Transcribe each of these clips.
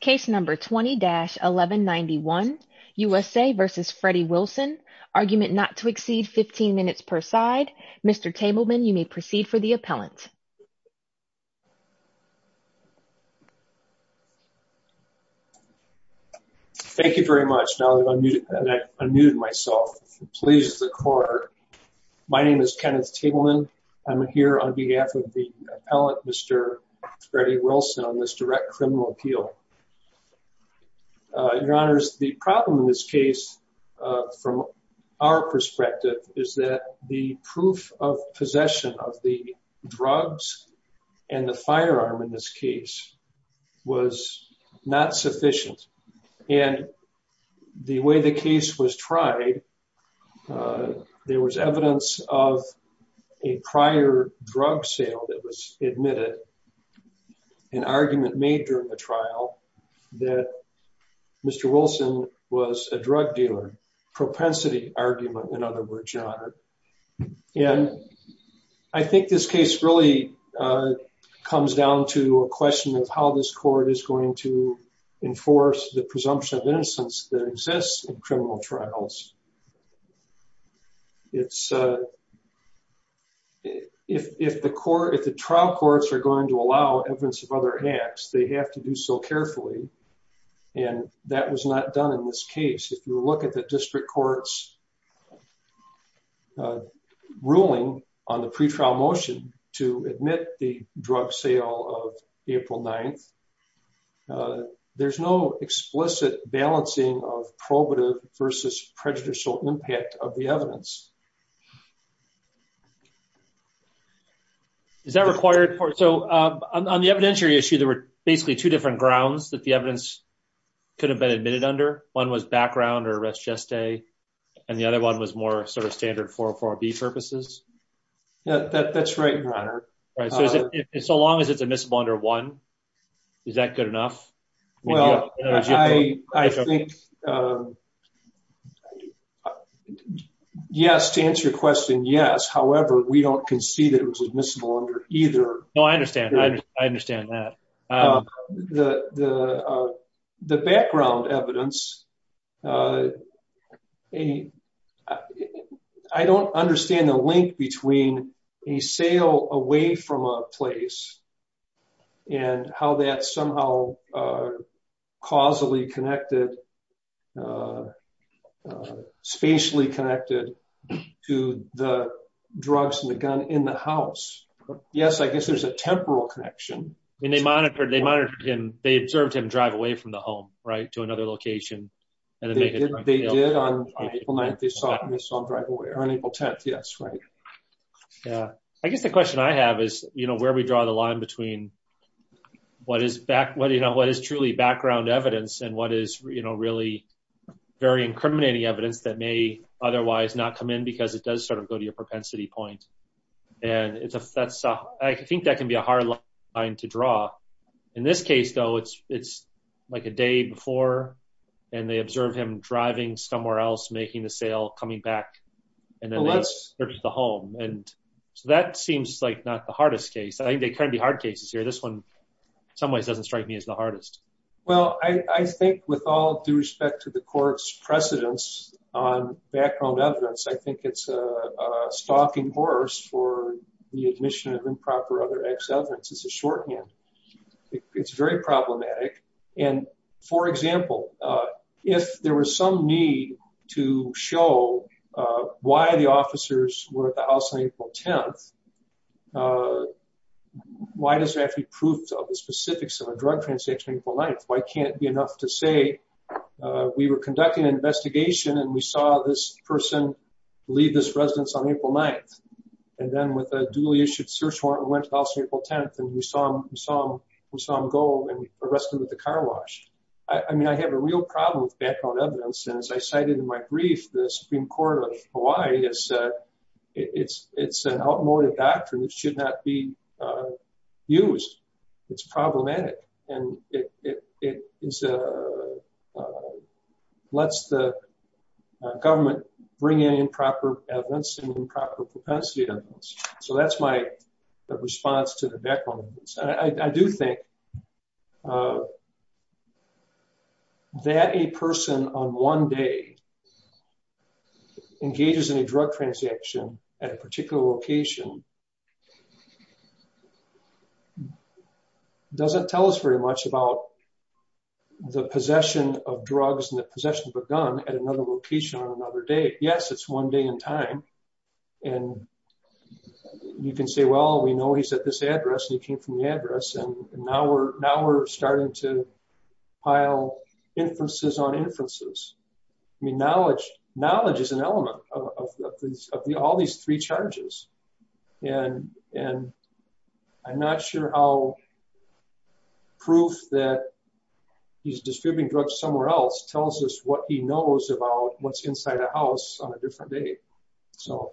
Case No. 20-1191, USA v. Freddie Wilson, Argument Not to Exceed 15 Minutes Per Side. Mr. Tableman, you may proceed for the appellant. Thank you very much. Now that I've unmuted myself, please the court. My name is Kenneth Tableman. I'm here on behalf of the appellant, Mr. Freddie Wilson, on this direct criminal appeal. Your Honors, the problem in this case, from our perspective, is that the proof of possession of the drugs and the firearm in this case was not sufficient. And the way the case was tried, there was evidence of a prior drug sale that was admitted. An argument made during the trial that Mr. Wilson was a drug dealer, propensity argument, in other words, Your Honor. And I think this case really comes down to a question of how this court is going to enforce the presumption of innocence that exists in criminal trials. If the trial courts are going to allow evidence of other acts, they have to do so carefully. And that was not done in this case. If you look at the district court's ruling on the pretrial motion to admit the drug sale of April 9th, there's no explicit balancing of probative versus prejudicial impact of the evidence. Is that required? So on the evidentiary issue, there were basically two different grounds that the evidence could have been admitted under. One was background or res geste, and the other one was more sort of standard 404B purposes. That's right, Your Honor. So long as it's admissible under one, is that good enough? Well, I think, yes, to answer your question, yes. However, we don't concede that it was admissible under either. No, I understand. I understand that. The background evidence, I don't understand the link between a sale away from a place and how that somehow causally connected, spatially connected to the drugs and the gun in the house. Yes, I guess there's a temporal connection. They monitored him. They observed him drive away from the home, right, to another location. They did on April 9th. They saw him on April 10th. Yes, right. I guess the question I have is where we draw the line between what is truly background evidence and what is really very incriminating evidence that may otherwise not come in because it does sort of go to your propensity point. And I think that can be a hard line to draw. In this case, though, it's like a day before, and they observe him driving somewhere else, making the sale, coming back, and then they search the home. And so that seems like not the hardest case. I think there can be hard cases here. This one, in some ways, doesn't strike me as the hardest. Well, I think with all due respect to the court's precedence on background evidence, I think it's a stalking horse for the admission of improper other acts evidence. It's a shorthand. It's very problematic. And, for example, if there was some need to show why the officers were at the house on April 10th, why does there have to be proof of the specifics of a drug transaction on April 9th? Why can't it be enough to say, we were conducting an investigation, and we saw this person leave this residence on April 9th? And then with a duly issued search warrant, we went to the house on April 10th, and we saw him go and arrested with a car wash. I mean, I have a real problem with background evidence, and as I cited in my brief, the Supreme Court of Hawaii, it's an outmoded doctrine that should not be used. It's problematic, and it lets the government bring in improper evidence and improper propensity evidence. So that's my response to the background evidence. I do think that a person on one day engages in a drug transaction at a particular location doesn't tell us very much about the possession of drugs and the possession of a gun at another location on another day. Yes, it's one day in time. And you can say, well, we know he's at this address, and he came from the address, and now we're starting to pile inferences on inferences. I mean, knowledge is an element of all these three charges. And I'm not sure how proof that he's distributing drugs somewhere else tells us what he knows about what's inside a house on a different day. So.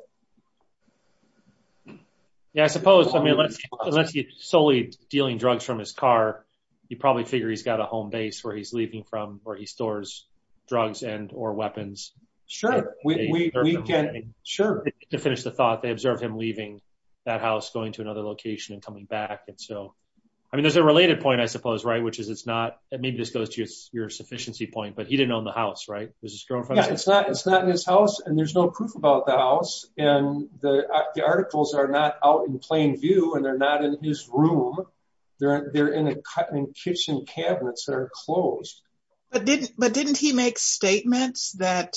Yeah, I suppose. I mean, unless he's solely dealing drugs from his car, you probably figure he's got a home base where he's leaving from where he stores drugs and or weapons. Sure, we can. Sure. To finish the thought, they observe him leaving that house going to another location and coming back. And so, I mean, there's a related point, I suppose, right, which is it's not, maybe this goes to your sufficiency point, but he didn't own the house, right? It's not in his house, and there's no proof about the house. And the articles are not out in plain view, and they're not in his room. They're in a kitchen cabinets that are closed. But didn't he make statements that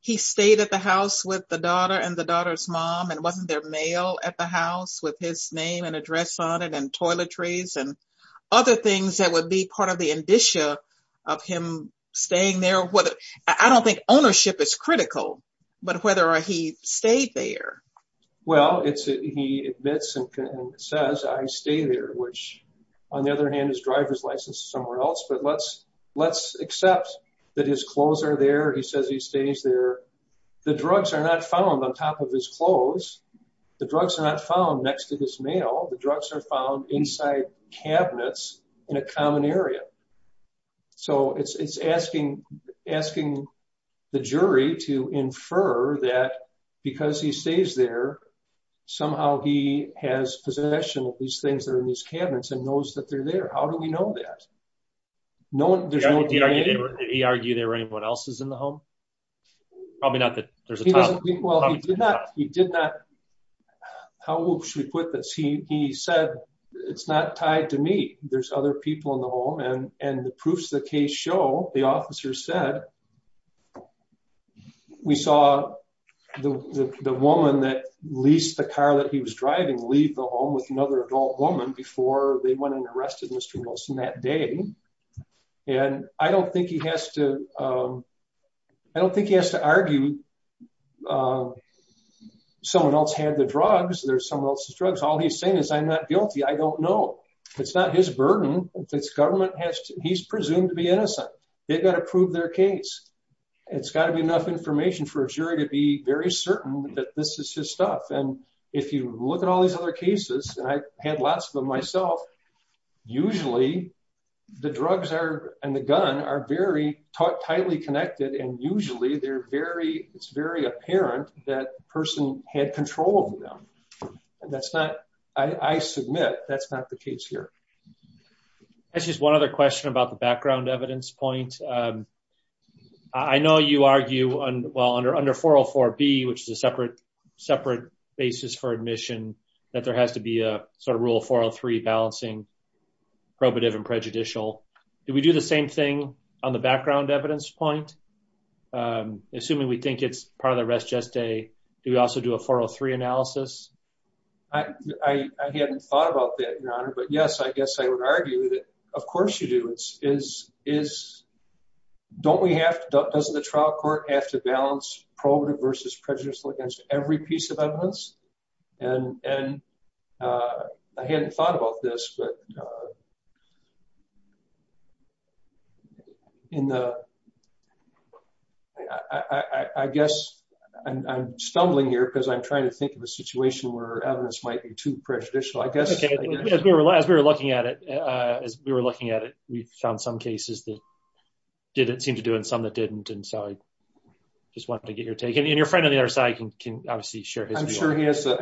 he stayed at the house with the daughter and the daughter's mom and wasn't there mail at the house with his name and address on it and toiletries and other things that would be part of the indicia of him staying there? I don't think ownership is critical, but whether he stayed there. Well, it's he admits and says, I stay there, which, on the other hand, his driver's license somewhere else. But let's, let's accept that his clothes are there. He says he stays there. The drugs are not found on top of his clothes. The drugs are not found next to his mail. The drugs are found inside cabinets in a common area. So it's asking, asking the jury to infer that because he stays there, somehow he has possession of these things that are in these cabinets and knows that they're there. How do we know that? Did he argue there were anyone else's in the home? Probably not that there's a topic. Well, he did not. He did not. How should we put this? He said, it's not tied to me. There's other people in the home. And the proofs of the case show, the officer said, we saw the woman that leased the car that he was driving leave the home with another adult woman before they went and arrested Mr. Wilson that day. And I don't think he has to, I don't think he has to argue. Someone else had the drugs. There's someone else's drugs. All he's saying is, I'm not guilty. I don't know. It's not his burden. It's government has to, he's presumed to be innocent. They've got to prove their case. It's got to be enough information for a jury to be very certain that this is his stuff. And if you look at all these other cases, and I had lots of them myself, usually the drugs are, and the gun are very tightly connected. And usually they're very, it's very apparent that person had control of them. And that's not, I submit, that's not the case here. That's just one other question about the background evidence point. I know you argue well under 404B, which is a separate basis for admission, that there has to be a sort of rule 403 balancing probative and prejudicial. Do we do the same thing on the background evidence point? Assuming we think it's part of the res geste, do we also do a 403 analysis? I hadn't thought about that, Your Honor. But yes, I guess I would argue that, of course you do. Don't we have, doesn't the trial court have to balance probative versus prejudicial against every piece of evidence? And I hadn't thought about this, but in the, I guess I'm stumbling here because I'm trying to think of a situation. Where evidence might be too prejudicial, I guess. As we were looking at it, as we were looking at it, we found some cases that didn't seem to do and some that didn't. And so I just wanted to get your take. And your friend on the other side can obviously share his view. So,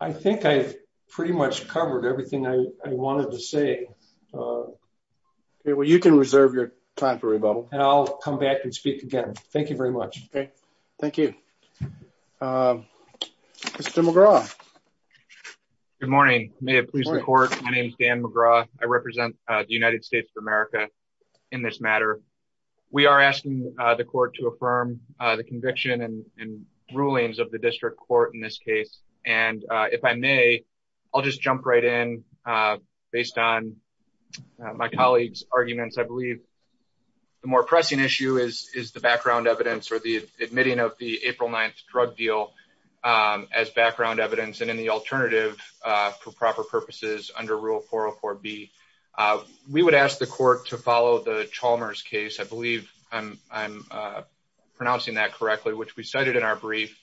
I think I've pretty much covered everything I wanted to say. Well, you can reserve your time for rebuttal. And I'll come back and speak again. Thank you very much. Okay, thank you. Mr. McGraw. Good morning. May it please the court. My name is Dan McGraw. I represent the United States of America. In this matter, we are asking the court to affirm the conviction and rulings of the district court in this case. And if I may, I'll just jump right in. Based on my colleagues arguments I believe the more pressing issue is, is the background evidence or the admitting of the April 9 drug deal as background evidence and in the alternative for proper purposes under Rule 404 B. We would ask the court to follow the Chalmers case. I believe I'm pronouncing that correctly, which we cited in our brief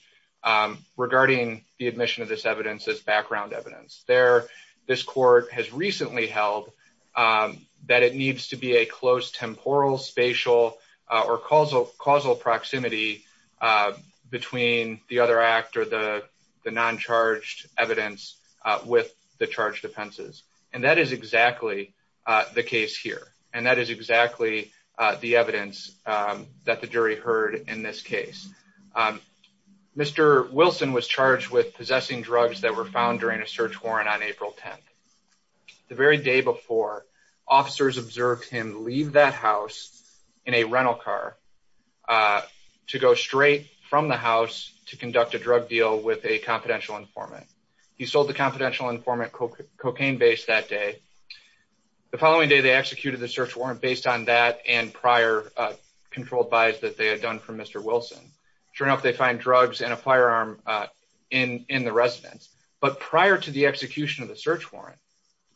regarding the admission of this evidence as background evidence there. This court has recently held that it needs to be a close temporal, spatial, or causal proximity between the other act or the non-charged evidence with the charged offenses. And that is exactly the case here. And that is exactly the evidence that the jury heard in this case. Mr. Wilson was charged with possessing drugs that were found during a search warrant on April 10th. The very day before, officers observed him leave that house in a rental car to go straight from the house to conduct a drug deal with a confidential informant. He sold the confidential informant cocaine base that day. The following day, they executed the search warrant based on that and prior controlled buys that they had done from Mr. Wilson. Sure enough, they find drugs and a firearm in the residence. But prior to the execution of the search warrant,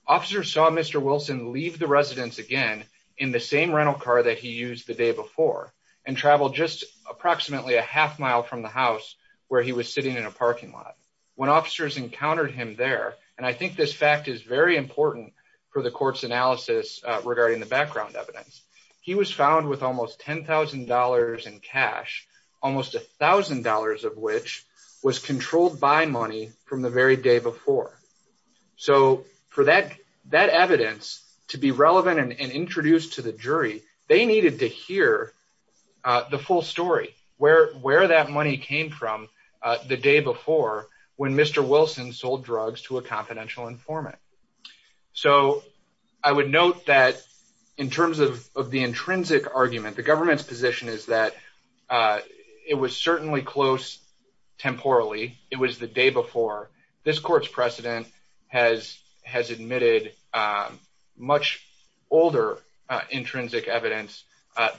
officers saw Mr. Wilson leave the residence again in the same rental car that he used the day before and traveled just approximately a half mile from the house where he was sitting in a parking lot. When officers encountered him there, and I think this fact is very important for the court's analysis regarding the background evidence, he was found with almost $10,000 in cash, almost $1,000 of which was controlled buy money from the very day before. So for that evidence to be relevant and introduced to the jury, they needed to hear the full story, where that money came from the day before when Mr. Wilson sold drugs to a confidential informant. So I would note that in terms of the intrinsic argument, the government's position is that it was certainly close temporally. It was the day before. This court's precedent has admitted much older intrinsic evidence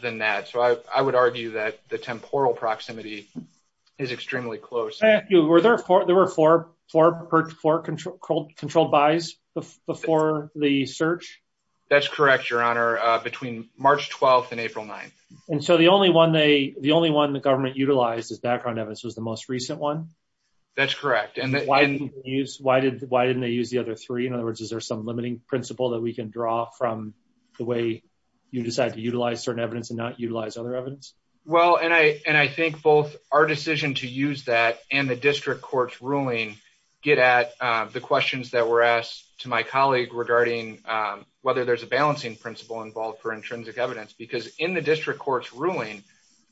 than that. So I would argue that the temporal proximity is extremely close. Were there four controlled buys before the search? That's correct, Your Honor, between March 12th and April 9th. And so the only one the government utilized as background evidence was the most recent one? That's correct. Why didn't they use the other three? In other words, is there some limiting principle that we can draw from the way you decide to utilize certain evidence and not utilize other evidence? Well, and I think both our decision to use that and the district court's ruling get at the questions that were asked to my colleague regarding whether there's a balancing principle involved for intrinsic evidence. Because in the district court's ruling,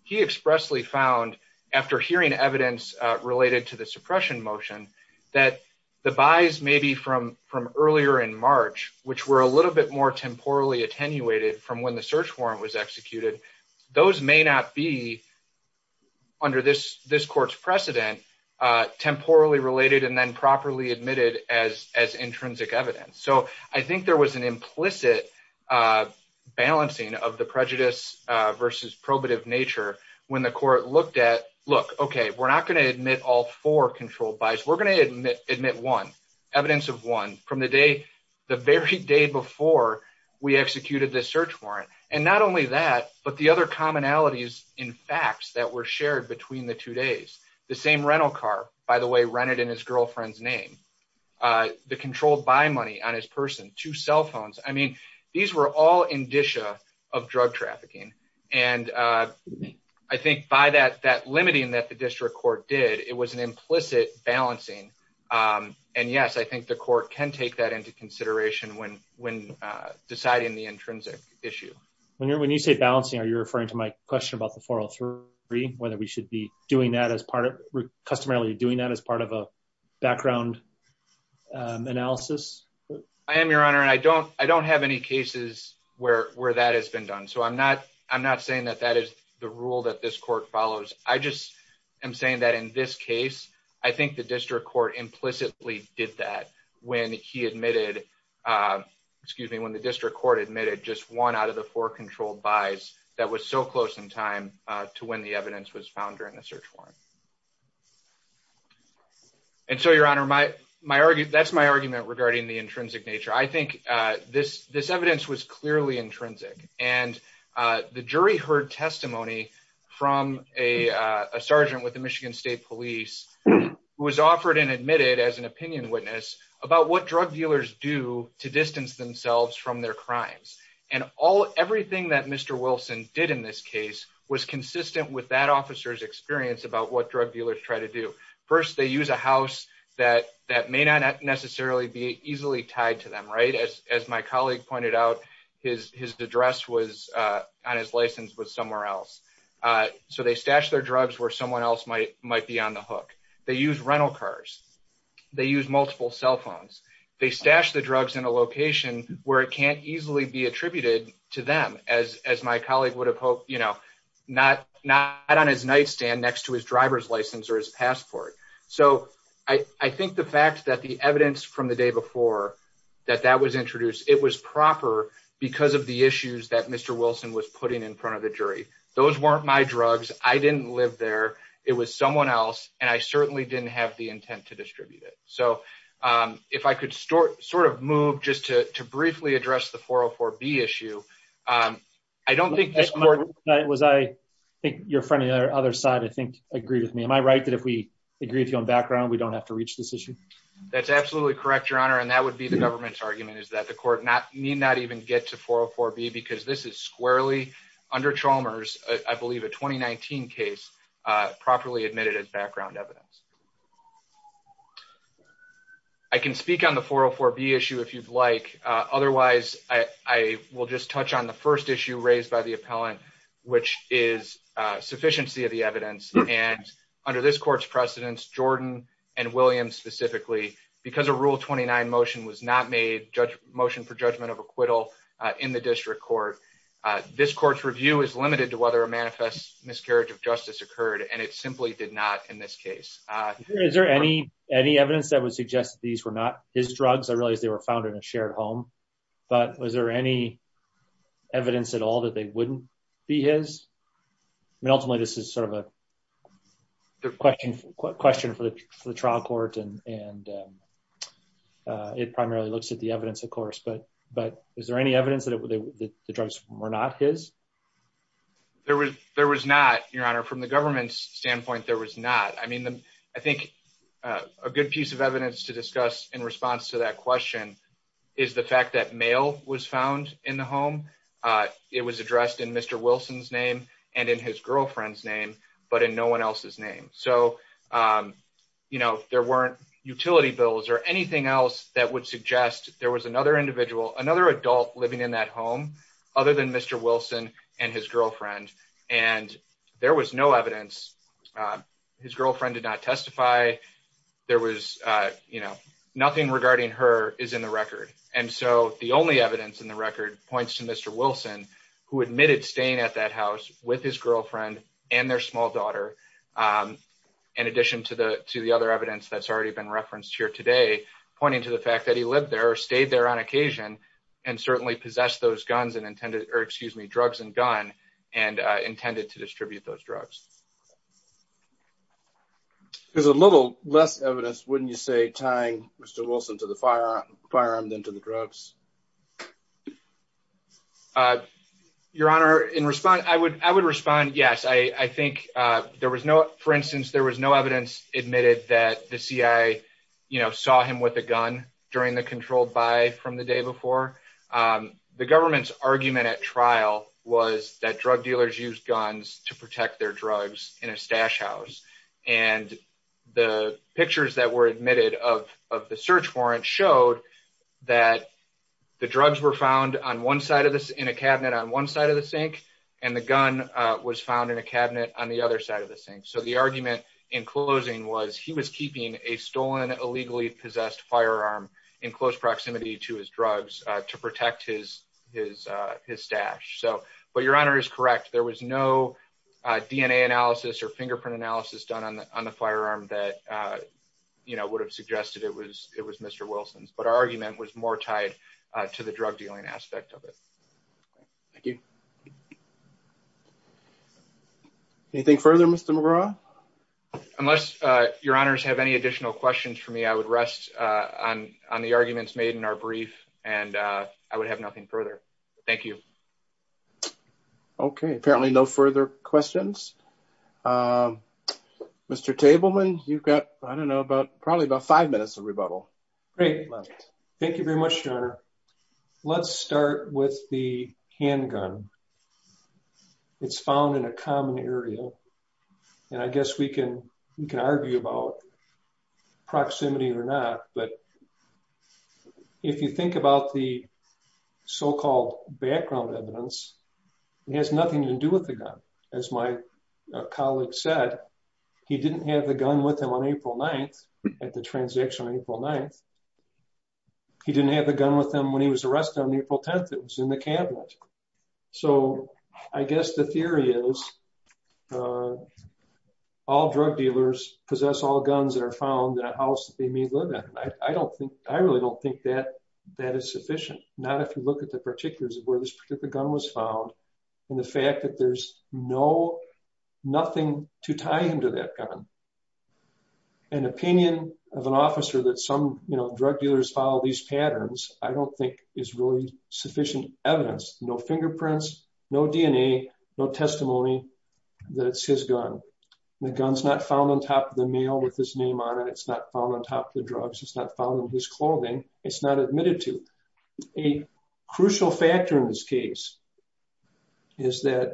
he expressly found, after hearing evidence related to the suppression motion, that the buys maybe from earlier in March, which were a little bit more temporally attenuated from when the search warrant was executed, those may not be, under this court's precedent, temporally related and then properly admitted as intrinsic evidence. So I think there was an implicit balancing of the prejudice versus probative nature when the court looked at, look, okay, we're not going to admit all four controlled buys. We're going to admit one, evidence of one, from the day, the very day before we executed the search warrant. And not only that, but the other commonalities in facts that were shared between the two days. The same rental car, by the way, rented in his girlfriend's name. The controlled buy money on his person, two cell phones. I mean, these were all indicia of drug trafficking. And I think by that limiting that the district court did, it was an implicit balancing. And yes, I think the court can take that into consideration when deciding the intrinsic issue. When you say balancing, are you referring to my question about the 403? Whether we should be customarily doing that as part of a background analysis? I am, Your Honor. And I don't have any cases where that has been done. So I'm not saying that that is the rule that this court follows. I just am saying that in this case, I think the district court implicitly did that when he admitted, excuse me, when the district court admitted just one out of the four controlled buys that was so close in time to when the evidence was found during the search warrant. And so, Your Honor, that's my argument regarding the intrinsic nature. I think this evidence was clearly intrinsic. And the jury heard testimony from a sergeant with the Michigan State Police who was offered and admitted as an opinion witness about what drug dealers do to distance themselves from their crimes. And everything that Mr. Wilson did in this case was consistent with that officer's experience about what drug dealers try to do. First, they use a house that may not necessarily be easily tied to them, right? As my colleague pointed out, his address on his license was somewhere else. So they stash their drugs where someone else might be on the hook. They use rental cars. They use multiple cell phones. They stash the drugs in a location where it can't easily be attributed to them, as my colleague would have hoped, you know, not on his nightstand next to his driver's license or his passport. So I think the fact that the evidence from the day before that that was introduced, it was proper because of the issues that Mr. Wilson was putting in front of the jury. Those weren't my drugs. I didn't live there. It was someone else. And I certainly didn't have the intent to distribute it. So if I could sort of move just to briefly address the 404B issue, I don't think this court... I think your friend on the other side, I think, agreed with me. Am I right that if we agree with you on background, we don't have to reach this issue? That's absolutely correct, Your Honor. And that would be the government's argument is that the court need not even get to 404B because this is squarely under Chalmers, I believe, a 2019 case properly admitted as background evidence. I can speak on the 404B issue if you'd like. Otherwise, I will just touch on the first issue raised by the appellant, which is sufficiency of the evidence. And under this court's precedence, Jordan and Williams specifically, because a Rule 29 motion was not made, motion for judgment of acquittal in the district court, this court's review is limited to whether a manifest miscarriage of justice occurred. And it simply did not in this case. Is there any evidence that would suggest these were not his drugs? I realize they were found in a shared home. But was there any evidence at all that they wouldn't be his? Ultimately, this is sort of a question for the trial court, and it primarily looks at the evidence, of course. But is there any evidence that the drugs were not his? There was not, Your Honor. From the government's standpoint, there was not. I think a good piece of evidence to discuss in response to that question is the fact that mail was found in the home. It was addressed in Mr. Wilson's name and in his girlfriend's name, but in no one else's name. So, you know, there weren't utility bills or anything else that would suggest there was another individual, another adult living in that home other than Mr. Wilson and his girlfriend. And there was no evidence. His girlfriend did not testify. There was, you know, nothing regarding her is in the record. And so the only evidence in the record points to Mr. Wilson, who admitted staying at that house with his girlfriend and their small daughter. In addition to the other evidence that's already been referenced here today, pointing to the fact that he lived there or stayed there on occasion and certainly possessed those guns and intended, or excuse me, drugs and gun and intended to distribute those drugs. There's a little less evidence, wouldn't you say, tying Mr. Wilson to the firearm than to the drugs? Your Honor, in response, I would I would respond. Yes, I think there was no for instance, there was no evidence admitted that the CIA, you know, saw him with a gun during the controlled by from the day before. The government's argument at trial was that drug dealers use guns to protect their drugs in a stash house. And the pictures that were admitted of the search warrant showed that the drugs were found on one side of this in a cabinet on one side of the sink. And the gun was found in a cabinet on the other side of the sink. So the argument in closing was he was keeping a stolen, illegally possessed firearm in close proximity to his drugs to protect his his his stash. So but your honor is correct. There was no DNA analysis or fingerprint analysis done on the firearm that, you know, would have suggested it was it was Mr. Wilson's. But our argument was more tied to the drug dealing aspect of it. Thank you. Anything further, Mr. McGraw? Unless your honors have any additional questions for me, I would rest on on the arguments made in our brief and I would have nothing further. Thank you. OK, apparently no further questions. Mr. Tableman, you've got, I don't know, but probably about five minutes of rebuttal. Thank you very much, your honor. Let's start with the handgun. It's found in a common area, and I guess we can we can argue about proximity or not, but if you think about the so-called background evidence, it has nothing to do with the gun. As my colleague said, he didn't have the gun with him on April 9th at the transaction on April 9th. He didn't have a gun with him when he was arrested on April 10th. It was in the cabinet. So I guess the theory is all drug dealers possess all guns that are found in a house that they may live in. I don't think I really don't think that that is sufficient. Not if you look at the particulars of where this particular gun was found and the fact that there's no nothing to tie into that gun. An opinion of an officer that some drug dealers follow these patterns, I don't think is really sufficient evidence. No fingerprints, no DNA, no testimony that it's his gun. The gun's not found on top of the mail with his name on it. It's not found on top of the drugs. It's not found in his clothing. It's not admitted to. A crucial factor in this case is that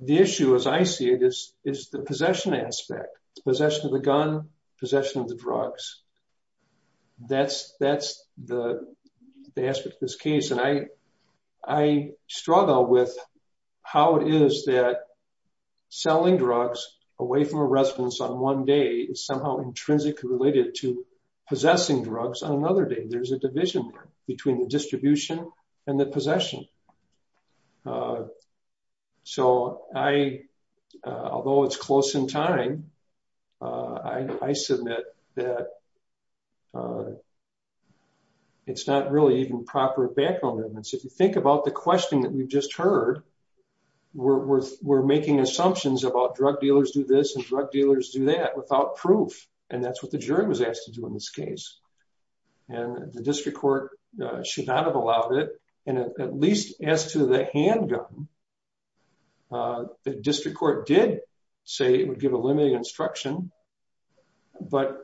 the issue, as I see it, is the possession aspect, possession of the gun, possession of the drugs. That's the aspect of this case. And I struggle with how it is that selling drugs away from a residence on one day is somehow intrinsically related to possessing drugs on another day. There's a division between the distribution and the possession. So I, although it's close in time, I submit that it's not really even proper background evidence. If you think about the question that we've just heard, we're making assumptions about drug dealers do this and drug dealers do that without proof. And that's what the jury was asked to do in this case. And the district court should not have allowed it. And at least as to the handgun, the district court did say it would give a limited instruction. But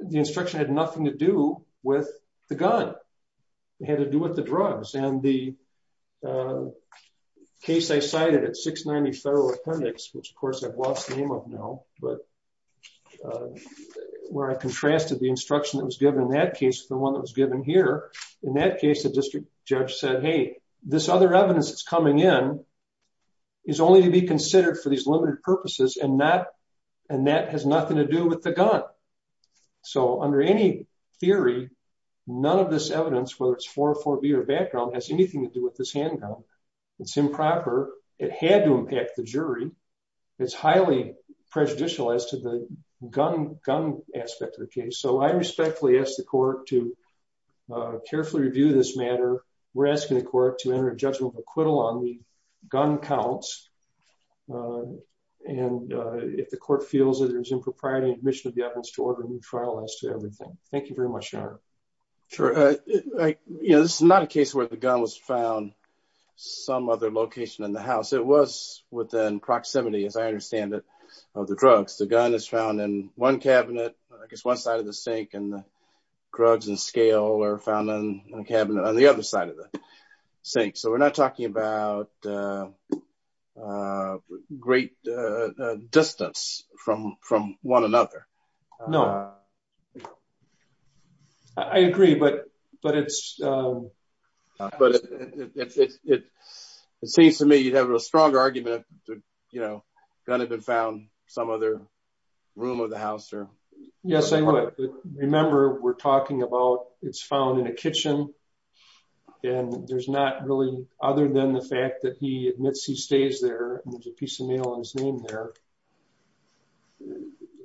the instruction had nothing to do with the gun. It had to do with the drugs. And the case I cited at 690 Federal Appendix, which of course I've lost the name of now, but where I contrasted the instruction that was given in that case with the one that was given here. In that case, the district judge said, hey, this other evidence that's coming in is only to be considered for these limited purposes and that has nothing to do with the gun. So under any theory, none of this evidence, whether it's 404B or background, has anything to do with this handgun. It's improper. It had to impact the jury. It's highly prejudicial as to the gun aspect of the case. So I respectfully ask the court to carefully review this matter. We're asking the court to enter a judgment of acquittal on the gun counts. And if the court feels that there's impropriety, admission of the evidence to order a new trial as to everything. Thank you very much, Your Honor. Sure. This is not a case where the gun was found some other location in the house. It was within proximity, as I understand it, of the drugs. The gun is found in one cabinet, I guess one side of the sink, and the drugs and scale are found in a cabinet on the other side of the sink. So we're not talking about great distance from one another. No. I agree, but it's... But it seems to me you'd have a strong argument, you know, gun had been found some other room of the house or...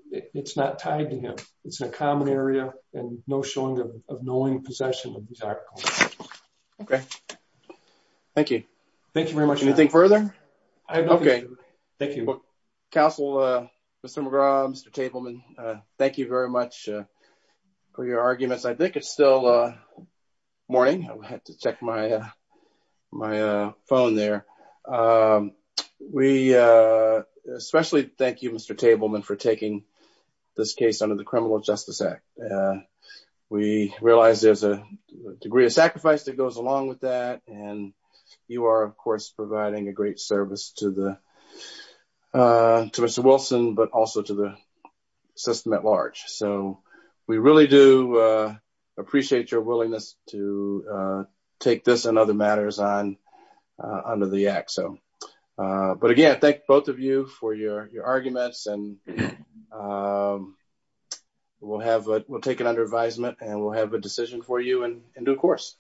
It's not tied to him. It's a common area and no showing of knowing possession of these articles. Okay. Thank you. Thank you very much, Your Honor. Anything further? Okay. Thank you. Counsel, Mr. McGraw, Mr. Tableman, thank you very much for your arguments. I think it's still morning. I had to check my phone there. We especially thank you, Mr. Tableman, for taking this case under the Criminal Justice Act. We realize there's a degree of sacrifice that goes along with that. And you are, of course, providing a great service to Mr. Wilson, but also to the system at large. So we really do appreciate your willingness to take this and other matters on under the act. But again, I thank both of you for your arguments and we'll take it under advisement and we'll have a decision for you in due course.